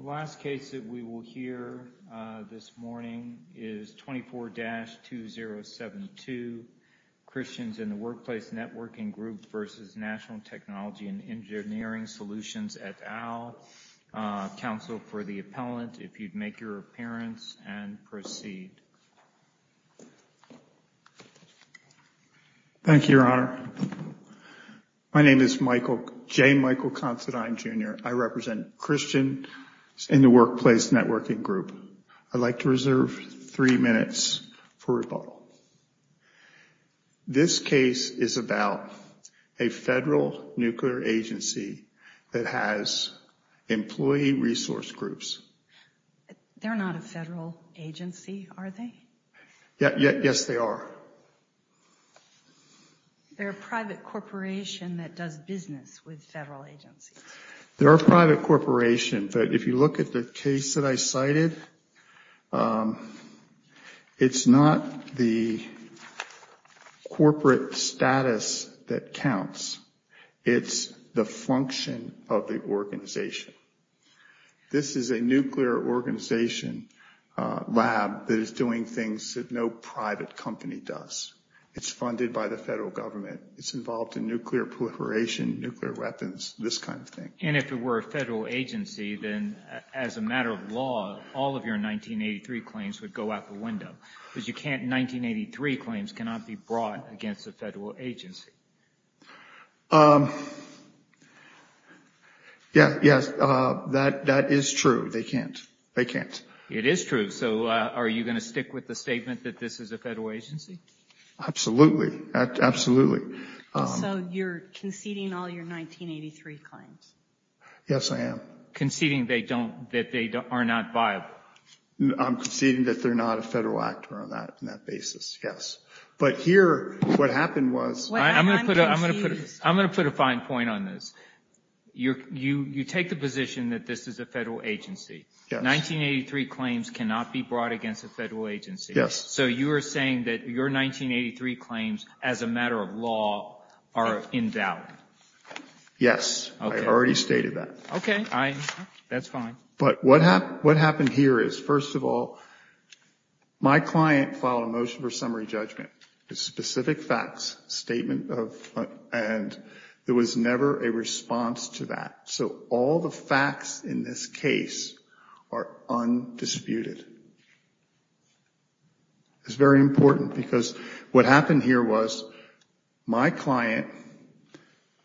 et al., Council for the Appellant, if you'd make your appearance and proceed. Thank you, Your Honor. My name is Michael, J. Michael Considine, Jr. I represent Christian, in the Workplace Networking Group. I'd like to reserve three minutes for rebuttal. This case is about a federal nuclear agency that has employee resource groups. They're not a federal agency, are they? Yes, they are. They're a private corporation that does business with federal agencies. They're a private corporation, but if you look at the case that I cited, it's not the corporate status that counts. It's the function of the organization. This is a nuclear organization lab that is doing things that no private company does. It's funded by the federal government. It's involved in nuclear proliferation, nuclear weapons, this kind of thing. And if it were a federal agency, then as a matter of law, all of your 1983 claims would go out the window. Because you can't, 1983 claims cannot be brought against a federal agency. Yes, that is true. They can't. They can't. It is true. So are you going to stick with the statement that this is a federal agency? Absolutely. Absolutely. So you're conceding all your 1983 claims? Yes, I am. Conceding they don't, that they are not viable? I'm conceding that they're not a federal actor on that basis, yes. But here, what happened was... I'm going to put a fine point on this. You take the position that this is a federal agency. Yes. 1983 claims cannot be brought against a federal agency. Yes. So you are saying that your 1983 claims, as a matter of law, are in doubt? Yes. I already stated that. Okay. That's fine. But what happened here is, first of all, my client filed a motion for summary judgment, a specific facts statement, and there was never a response to that. So all the facts in this case are undisputed. It's very important, because what happened here was, my client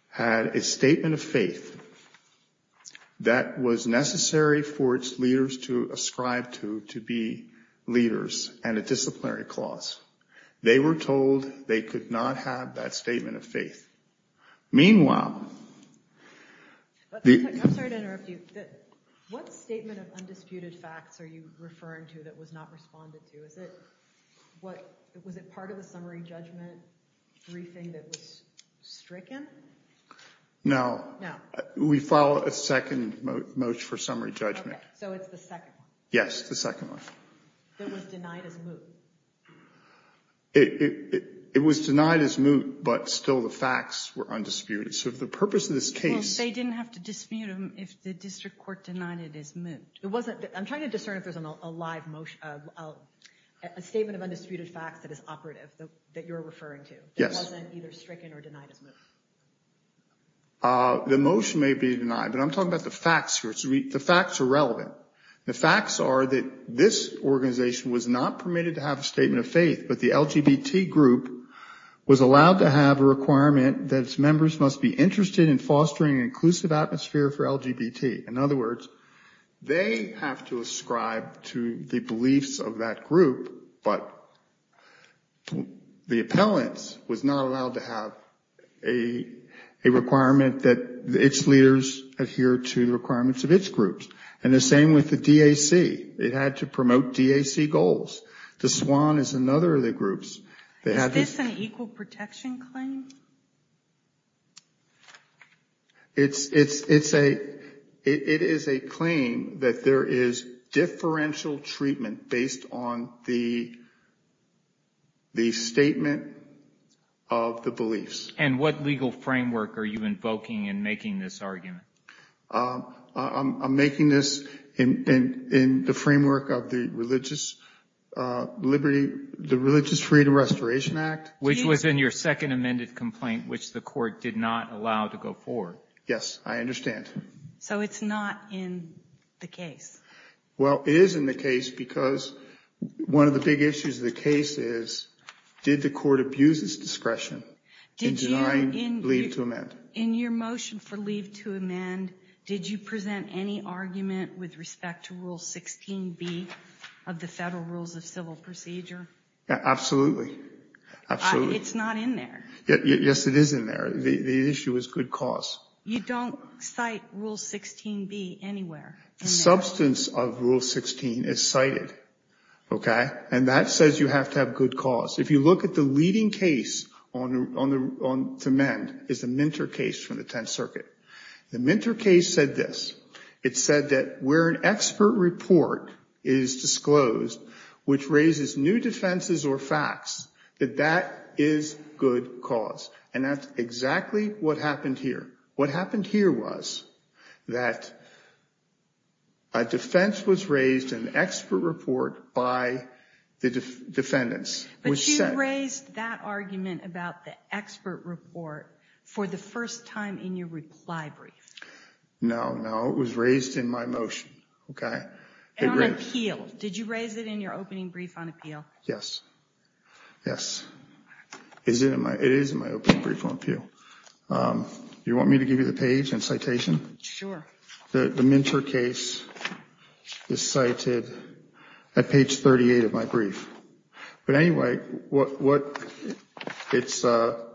had a statement of faith that was necessary for its leaders to ascribe to, to be leaders, and a disciplinary clause. They were told they could not have that statement of faith. Meanwhile... I'm sorry to interrupt you. What statement of undisputed facts are you referring to that was not responded to? Was it part of the summary judgment briefing that was stricken? No. We filed a second motion for summary judgment. Okay. So it's the second one? Yes, the second one. That was denied as moot? It was denied as moot, but still the facts were undisputed. So the purpose of this case... They didn't have to dispute them if the district court denied it as moot. I'm trying to discern if there's a live motion, a statement of undisputed facts that is operative, that you're referring to, that wasn't either stricken or denied as moot. The motion may be denied, but I'm talking about the facts here. The facts are relevant. The facts are that this organization was not permitted to have a statement of faith, but the LGBT group was allowed to have a standing inclusive atmosphere for LGBT. In other words, they have to ascribe to the beliefs of that group, but the appellant was not allowed to have a requirement that its leaders adhere to the requirements of its groups. And the same with the DAC. It had to promote DAC goals. The SWAN is another of the groups. Is this an equal protection claim? It is a claim that there is differential treatment based on the statement of the beliefs. And what legal framework are you invoking in making this argument? I'm making this in the framework of the Religious Freedom Restoration Act. Which was in your second amended complaint, which the court did not allow to go forward. Yes, I understand. So it's not in the case? Well, it is in the case because one of the big issues of the case is, did the court abuse its discretion in denying leave to amend? In your motion for leave to amend, did you present any argument with respect to Rule 16B of the Federal Rules of Civil Procedure? Absolutely. It's not in there. Yes, it is in there. The issue is good cause. You don't cite Rule 16B anywhere. The substance of Rule 16 is cited. And that says you have to have good cause. If you look at the leading case to amend is the Minter case from the Tenth Circuit. The Minter case said this. It said that where an expert report is disclosed, which raises new defenses or facts, that that is good cause. And that's exactly what happened here. What happened here was that a defense was raised in the expert report by the defendants. But you raised that argument about the expert report for the first time in your reply brief. No, no, it was raised in my motion. And on appeal, did you raise it in your opening brief on appeal? Yes, yes. It is in my opening brief on appeal. You want me to give you the page and citation? Sure. The Minter case is cited at page 38 of my brief. But anyway, it's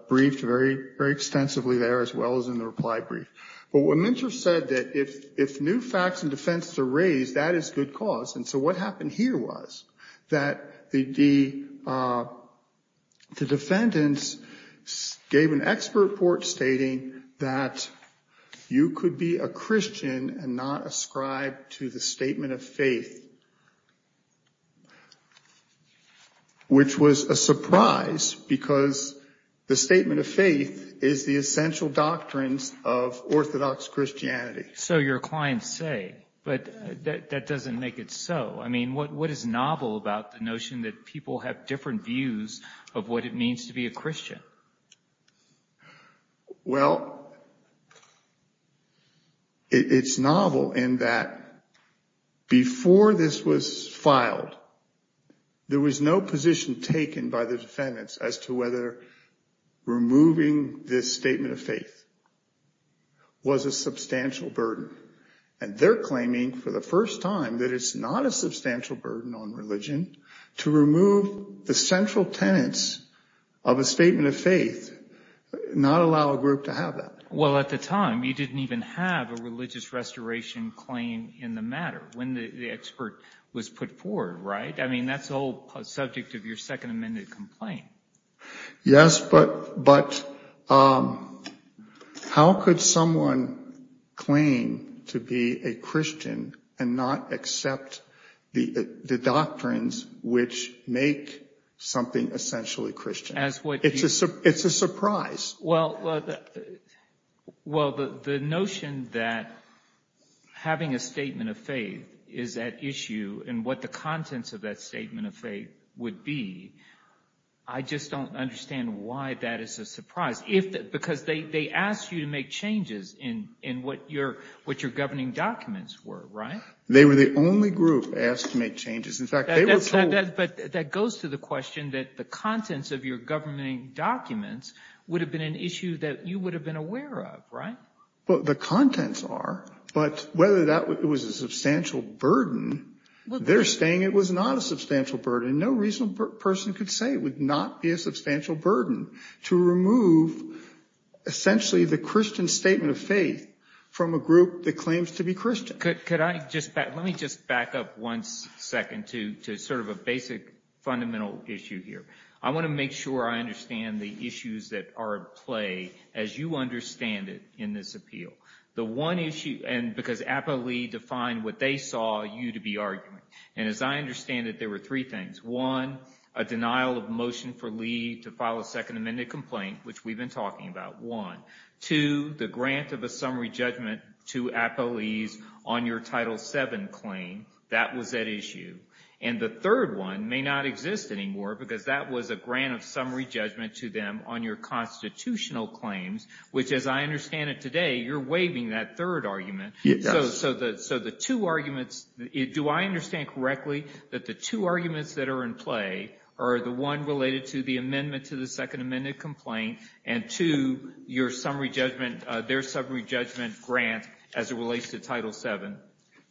briefed very extensively there as well as in the reply brief. But what Minter said that if new facts and defenses are raised, that is good cause. And so what happened here was that the defendants gave an expert report stating that you could be a Christian and not ascribe to the statement of faith. Which was a surprise, because the statement of faith is the essential doctrines of Orthodox Christianity. So your clients say, but that doesn't make it so. I mean, what is novel about the notion that people have different views of what it means to be a Christian? Well, it's novel in that before this was filed, there was a statement of faith. There was no position taken by the defendants as to whether removing this statement of faith was a substantial burden. And they're claiming for the first time that it's not a substantial burden on religion to remove the central tenets of a statement of faith, not allow a group to have that. Well, at the time, you didn't even have a religious restoration claim in the matter when the expert was put forward, right? I mean, that's the whole subject of your second amended complaint. Yes, but how could someone claim to be a Christian and not accept the doctrines which make something essentially Christian? It's a surprise. Well, the notion that having a statement of faith is at issue and what the contents of that statement of faith would be, I just don't understand why that is a surprise. Because they asked you to make changes in what your governing documents were, right? They were the only group asked to make changes. But that goes to the question that the contents of your governing documents would have been an issue that you would have been aware of, right? Well, the contents are, but whether that was a substantial burden, they're saying it was not a substantial burden. No reasonable person could say it would not be a substantial burden to remove essentially the Christian statement of faith from a group that claims to be Christian. Let me just back up one second to sort of a basic fundamental issue here. I want to make sure I understand the issues that are at play as you understand it in this appeal. The one issue, and because Apo Lee defined what they saw you to be arguing, and as I understand it, there were three things. One, a denial of motion for Lee to file a second amended complaint, which we've been talking about. One. Two, the grant of a summary judgment to Apo Lee's on your Title VII claim, that was at issue. And the third one may not exist anymore because that was a grant of summary judgment to them on your constitutional claims, which as I understand it today, you're waiving that third argument. So the two arguments, do I understand correctly that the two arguments that are in play are the one related to the amendment to the second amended complaint, and two, your summary judgment, their summary judgment grant as it relates to Title VII?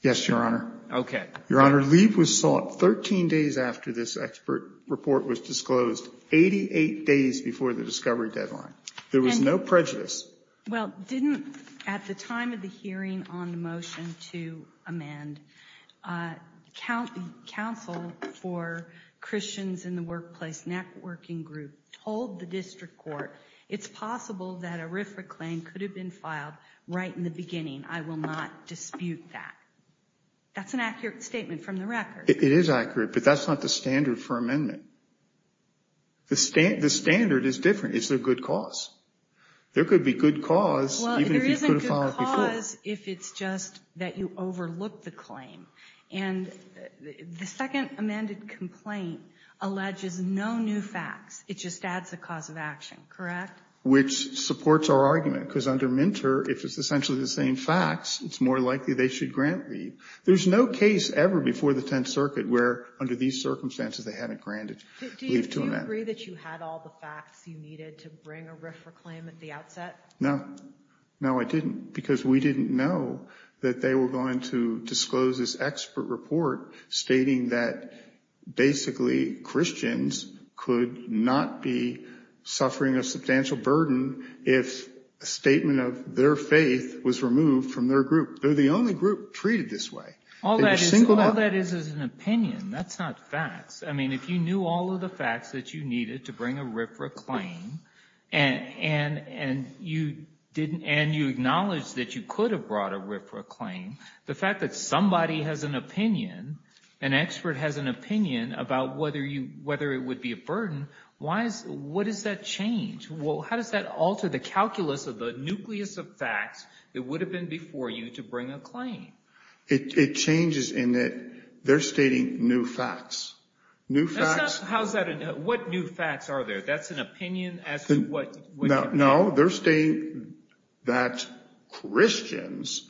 Yes, Your Honor. Okay. Your Honor, Lee was sought 13 days after this expert report was disclosed, 88 days before the discovery deadline. There was no prejudice. Well, didn't, at the time of the hearing on the motion to amend, counsel for Christians in the Workplace Networking Group told the district court, it's possible that a RFRA claim could have been filed right in the beginning. I will not dispute that. That's an accurate statement from the record. It is accurate, but that's not the standard for amendment. The standard is different. It's a good cause. There could be good cause, even if you could have filed it before. Well, there is a good cause if it's just that you overlook the claim. And the second amended complaint alleges no new facts. It just adds a cause of action, correct? Which supports our argument, because under Minter, if it's essentially the same facts, it's more likely they should grant leave. There's no case ever before the Tenth Circuit where, under these circumstances, they haven't granted leave to amend. Do you agree that you had all the facts you needed to bring a RFRA claim at the outset? No. No, I didn't, because we didn't know that they were going to disclose this expert report, stating that basically Christians could not be suffering a substantial burden if a statement of their faith was removed from their group. They're the only group treated this way. All that is is an opinion. That's not facts. I mean, if you knew all of the facts that you needed to bring a RFRA claim, and you acknowledged that you could have brought a RFRA claim, the fact that somebody has an opinion, an expert has an opinion about whether it would be a burden, what does that change? Well, how does that alter the calculus of the nucleus of facts that would have been before you to bring a claim? It changes in that they're stating new facts. What new facts are there? That's an opinion? No, they're stating that Christians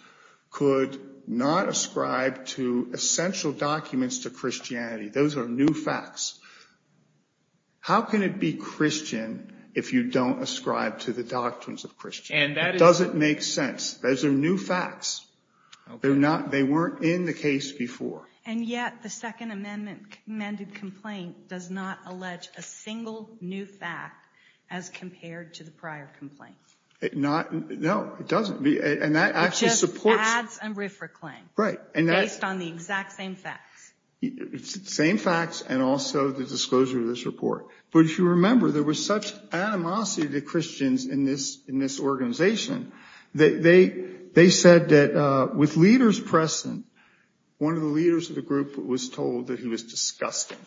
could not ascribe to essential documents to Christianity. Those are new facts. How can it be Christian if you don't ascribe to the doctrines of Christianity? It doesn't make sense. Those are new facts. They weren't in the case before. And yet the Second Amendment amended complaint does not allege a single new fact as compared to the prior complaint. No, it doesn't. It just adds a RFRA claim based on the exact same facts. Same facts and also the disclosure of this report. But if you remember, there was such animosity to Christians in this organization that they said that with leaders present, one of the leaders of the group was told that he was disgusting.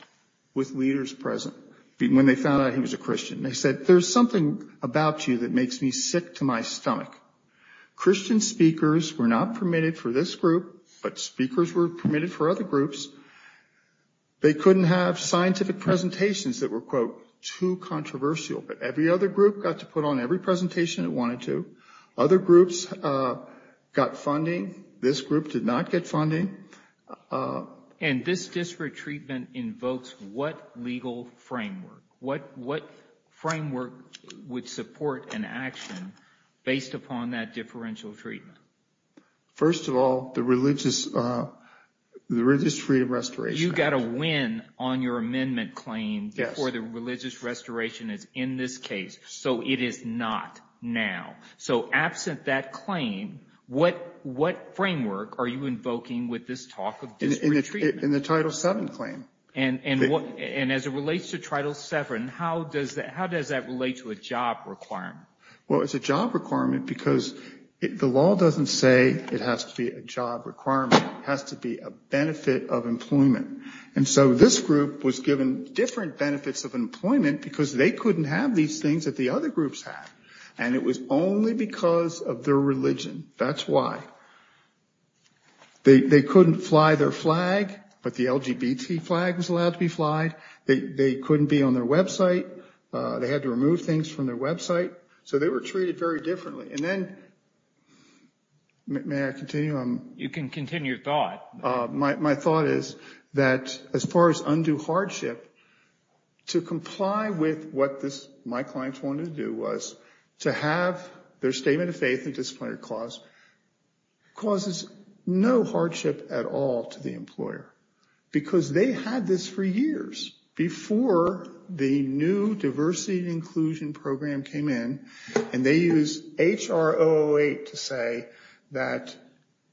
With leaders present, when they found out he was a Christian. They said, there's something about you that makes me sick to my stomach. Christian speakers were not permitted for this group, but speakers were permitted for other groups. They couldn't have scientific presentations that were, quote, too controversial. But every other group got to put on every presentation it wanted to. Other groups got funding. This group did not get funding. And this district treatment invokes what legal framework? What framework would support an action based upon that differential treatment? First of all, the Religious Freedom Restoration Act. You got a win on your amendment claim before the Religious Restoration is in this case. So it is not now. So absent that claim, what framework are you invoking with this talk of district treatment? In the Title VII claim. And as it relates to Title VII, how does that relate to a job requirement? Well, it's a job requirement because the law doesn't say it has to be a job requirement. It has to be a benefit of employment. And so this group was given different benefits of employment because they couldn't have these things that the other groups had. And it was only because of their religion. That's why. They couldn't fly their flag, but the LGBT flag was allowed to be flied. They couldn't be on their website. They had to remove things from their website. So they were treated very differently. And then, may I continue? You can continue your thought. My thought is that as far as undue hardship, to comply with what my clients wanted to do was to have their Statement of Faith and Disciplinary Clause, causes no hardship at all to the employer. Because they had this for years before the new diversity and inclusion program came in. And they used H.R. 008 to say that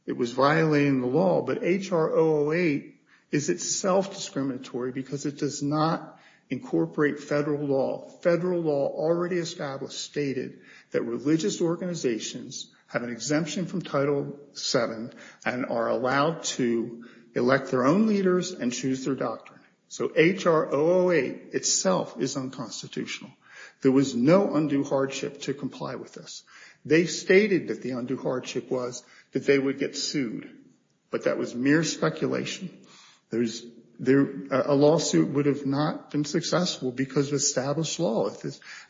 it was violating the law. But H.R. 008 is itself discriminatory because it does not incorporate federal law. Federal law already established stated that religious organizations have an exemption from Title VII and are allowed to elect their own leaders and choose their doctrine. So H.R. 008 itself is unconstitutional. There was no undue hardship to comply with this. They stated that the undue hardship was that they would get sued. But that was mere speculation. A lawsuit would have not been successful because of established law.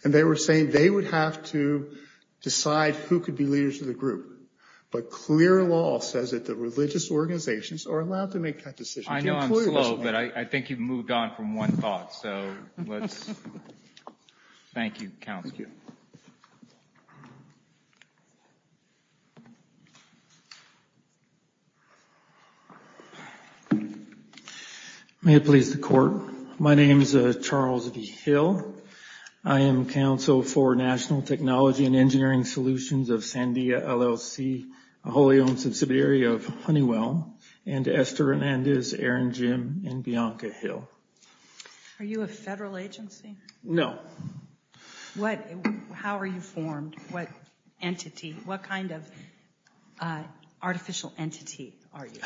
And they were saying they would have to decide who could be leaders of the group. But clear law says that the religious organizations are allowed to make that decision. I know I'm slow, but I think you've moved on from one thought. Thank you, counsel. May it please the court, my name is Charles V. Hill. I am counsel for National Technology and Engineering Solutions of Sandia LLC, a wholly owned subsidiary of Honeywell, and Esther Hernandez, Erin Jim, and Bianca Hill. Are you a federal agency? No. How are you formed? What kind of artificial entity are you?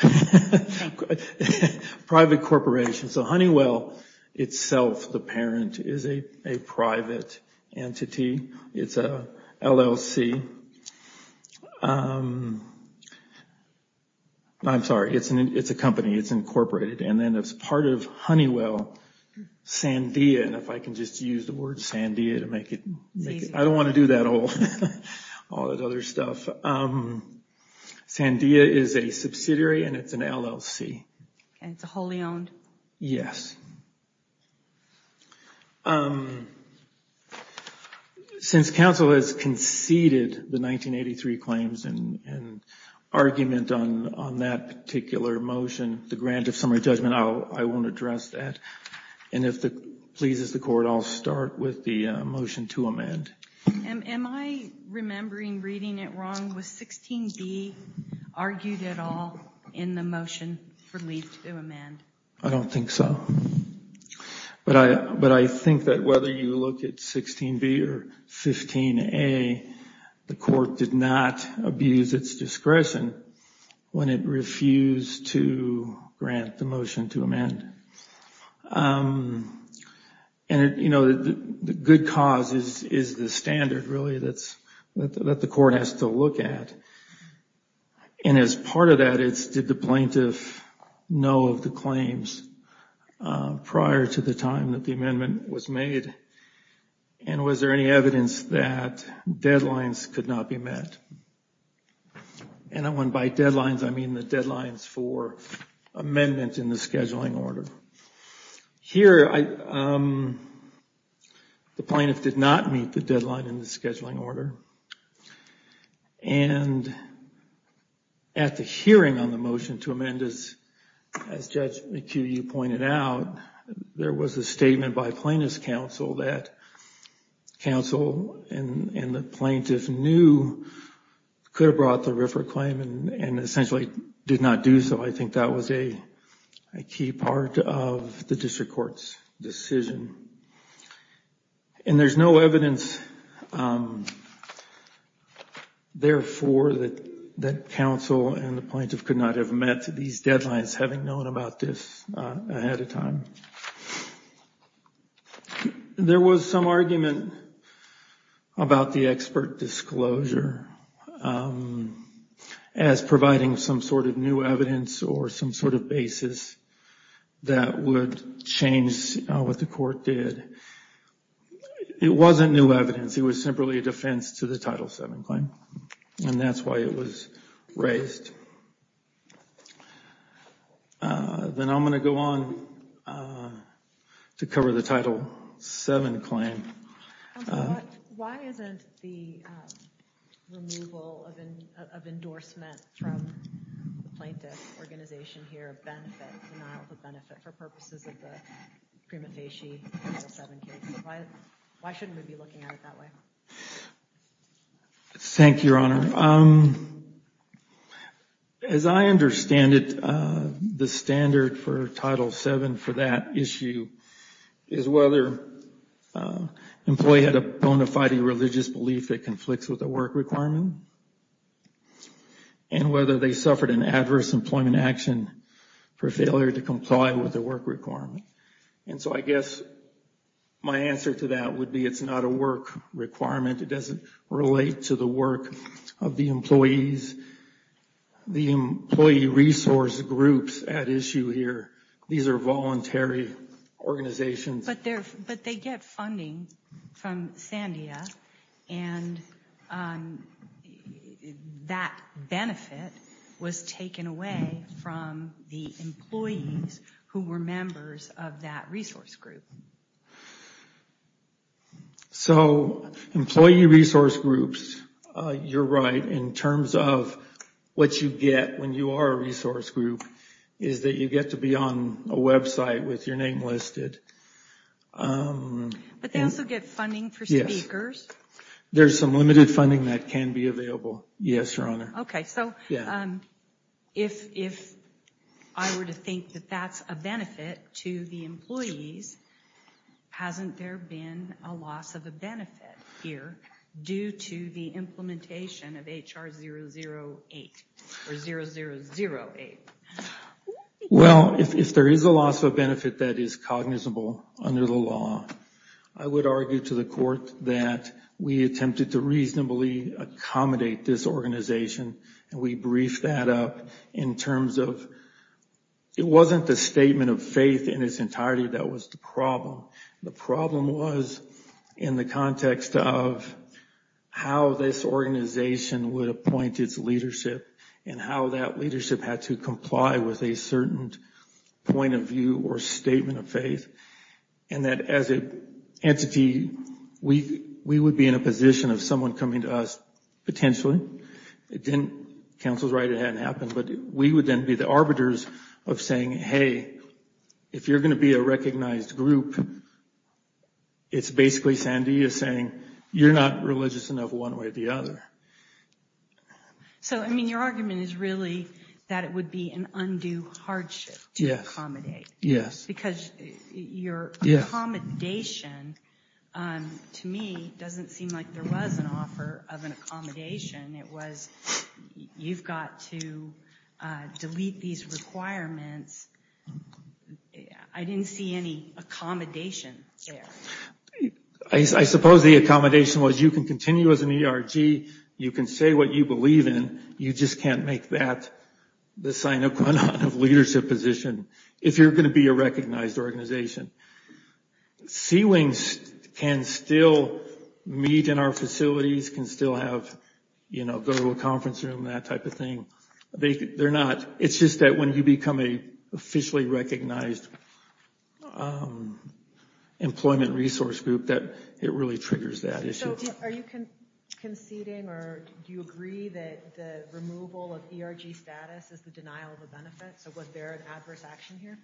Private corporation. So Honeywell itself, the parent, is a private entity. It's a LLC. I'm sorry, it's a company. It's incorporated. And then as part of Honeywell, Sandia, and if I can just use the word Sandia to make it... I don't want to do all that other stuff. Sandia is a subsidiary and it's an LLC. And it's a wholly owned? Yes. Since counsel has conceded the 1983 claims and argument on that particular motion, the grant of summary judgment, I won't address that. And if it pleases the court, I'll start with the motion to amend. Am I remembering reading it wrong? Was 16B argued at all in the motion for leave to amend? I don't think so. But I think that whether you look at 16B or 15A, the court did not abuse its discretion when it refused to grant the motion to amend. And, you know, the good cause is the standard, really, that the court has to look at. And as part of that, did the plaintiff know of the claims prior to the time that the amendment was made? And was there any evidence that deadlines could not be met? And when by deadlines, I mean the deadlines for amendments in the scheduling order. Here, the plaintiff did not meet the deadline in the scheduling order. And at the hearing on the motion to amend, as Judge McHugh pointed out, there was a statement by plaintiff's counsel that counsel and the plaintiff knew could have brought the RFRA claim and essentially did not do so. I think that was a key part of the district court's decision. And there's no evidence, therefore, that counsel and the plaintiff could not have met these deadlines, having known about this ahead of time. There was some argument about the expert disclosure as providing some sort of new evidence or some sort of basis that would change what the court did. It wasn't new evidence. It was simply a defense to the Title VII claim. And that's why it was raised. Then I'm going to go on to cover the Title VII claim. Why isn't the removal of endorsement from the plaintiff's organization here a denial of benefit for purposes of the prima facie Title VII case? Why shouldn't we be looking at it that way? Thank you, Your Honor. As I understand it, the standard for Title VII for that issue is whether an employee had a bona fide religious belief that conflicts with the work requirement and whether they suffered an adverse employment action for failure to comply with the work requirement. And so I guess my answer to that would be it's not a work requirement. It doesn't relate to the work of the employees. The employee resource groups at issue here, these are voluntary organizations. But they get funding from Sandia and that benefit was taken away from the employees who were members of that resource group. So employee resource groups, you're right in terms of what you get when you are a resource group is that you get to be on a website with your name listed. But they also get funding for speakers. There's some limited funding that can be available, yes, Your Honor. Okay, so if I were to think that that's a benefit to the employees, hasn't there been a loss of a benefit here due to the implementation of HR 008 or 0008? Well, if there is a loss of benefit that is cognizable under the law, I would argue to the court that we attempted to reasonably accommodate this organization and we briefed that up in terms of it wasn't the statement of faith in its entirety that was the problem. The problem was in the context of how this organization would appoint its leadership and how that leadership had to comply with a certain point of view or statement of faith. And that as an entity, we would be in a position of someone coming to us potentially. Counsel's right, it hadn't happened, but we would then be the arbiters of saying, hey, if you're going to be a recognized group, it's basically Sandia saying you're not religious enough one way or the other. So, I mean, your argument is really that it would be an undue hardship to accommodate. Yes. Because your accommodation to me doesn't seem like there was an offer of an accommodation. It was you've got to delete these requirements. I didn't see any accommodation there. I suppose the accommodation was you can continue as an ERG. You can say what you believe in. You just can't make that the sine qua non of leadership position. If you're going to be a recognized organization, C wings can still meet in our facilities, can still have, you know, go to a conference room, that type of thing. They're not. It's just that when you become a officially recognized employment resource group, that it really triggers that issue. Are you conceding or do you agree that the removal of ERG status is the denial of a benefit? So was there an adverse action here?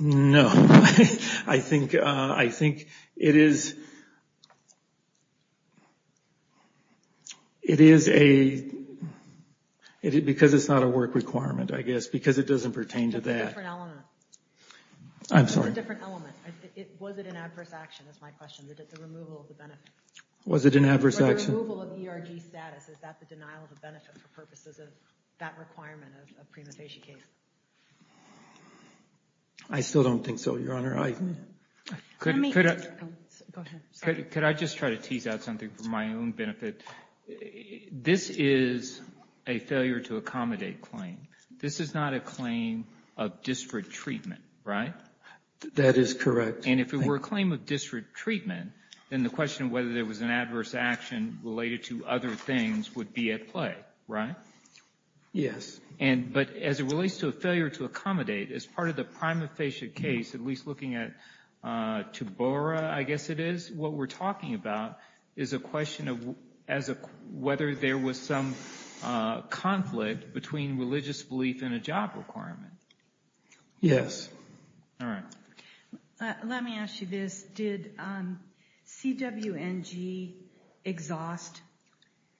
No. I think it is, it is a, because it's not a work requirement, I guess, because it doesn't pertain to that. I'm sorry. It's a different element. Was it an adverse action? Was it an adverse action? I still don't think so, Your Honor. Could I just try to tease out something for my own benefit? This is a failure to accommodate claim. This is not a claim of district treatment, right? That is correct. And if it were a claim of district treatment, then the question of whether there was an adverse action related to other things would be at play, right? Yes. But as it relates to a failure to accommodate, as part of the prima facie case, at least looking at TUBORA, I guess it is, what we're talking about is a question of whether there was some conflict between religious belief and a job requirement. Yes. Let me ask you this. Did CWNG exhaust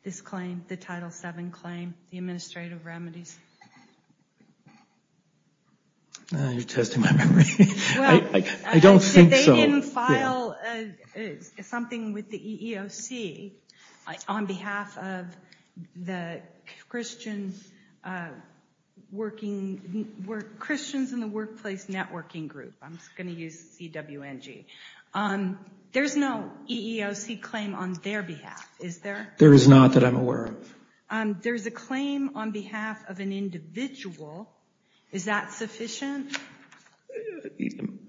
this claim, the Title VII claim, the administrative remedies? You're testing my memory. I don't think so. They didn't file something with the EEOC on behalf of the Christians in the Workplace Networking Group. I'm just going to use CWNG. There's no EEOC claim on their behalf, is there? There is not that I'm aware of. There's a claim on behalf of an individual. Is that sufficient?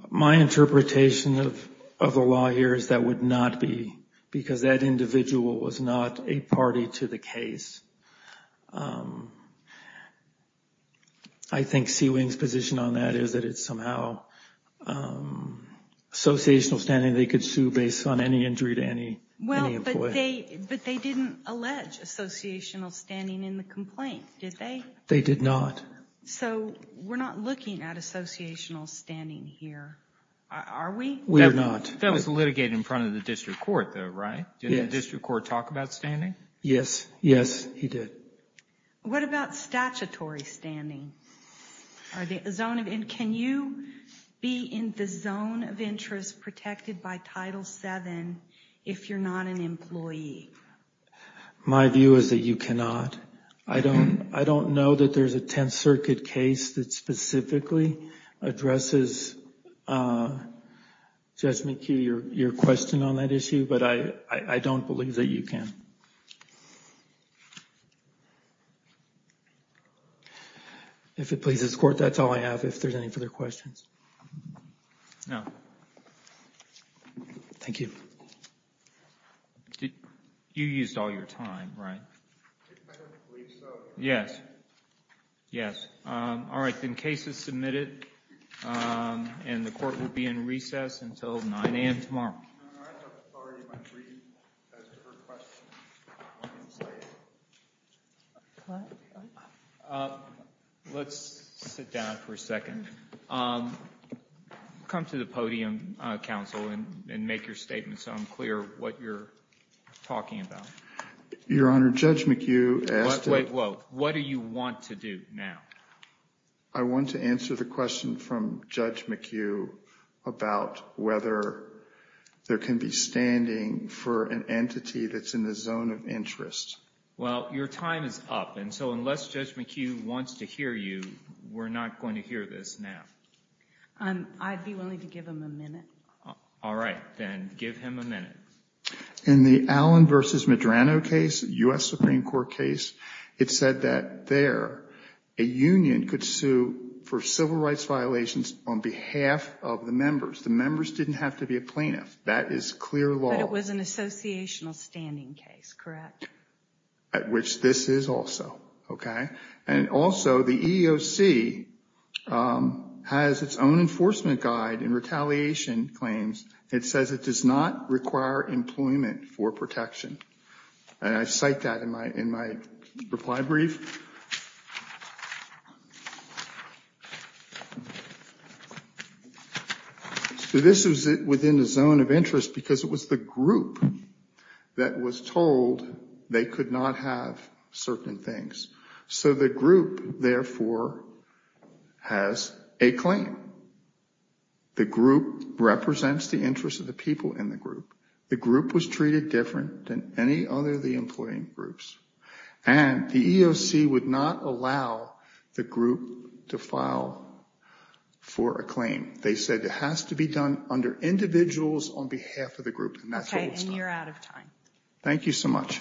My interpretation of the law here is that would not be, because that individual was not a party to the case. I think CWNG's position on that is that it's somehow associational standing. They could sue based on any injury to any employee. But they didn't allege associational standing in the complaint, did they? They did not. So we're not looking at associational standing here, are we? We're not. That was litigated in front of the district court, though, right? Didn't the district court talk about standing? Yes, yes, he did. What about statutory standing? Can you be in the zone of interest protected by Title VII if you're not an employee? My view is that you cannot. I don't know that there's a Tenth Circuit case that specifically addresses, Judge McKee, your question on that issue, but I don't believe that you can. If it pleases the Court, that's all I have. If there's any further questions. No. Thank you. You used all your time, right? I don't believe so. All right, then case is submitted, and the Court will be in recess until 9 a.m. tomorrow. Let's sit down for a second. Come to the podium, counsel, and make your statement so I'm clear what you're talking about. Your Honor, Judge McHugh asked What do you want to do now? I want to answer the question from Judge McHugh about whether there can be standing for an entity that's in the zone of interest. Well, your time is up, and so unless Judge McHugh wants to hear you, we're not going to hear this now. I'd be willing to give him a minute. All right, then give him a minute. In the Allen v. Medrano case, U.S. Supreme Court case, it said that there a union could sue for civil rights violations on behalf of the members. The members didn't have to be a plaintiff. That is clear law. But it was an associational standing case, correct? At which this is also, okay? And also, the EEOC has its own enforcement guide in retaliation claims. It says it does not require employment for protection. And I cite that in my reply brief. So this was within the zone of interest because it was the group that was told they could not have certain things. So the group, therefore, has a claim. The group represents the interests of the people in the group. The group was treated different than any other of the employee groups. And the EEOC would not allow the group to file for a claim. They said it has to be done under individuals on behalf of the group, and that's what was done. Okay, and you're out of time. Thank you so much.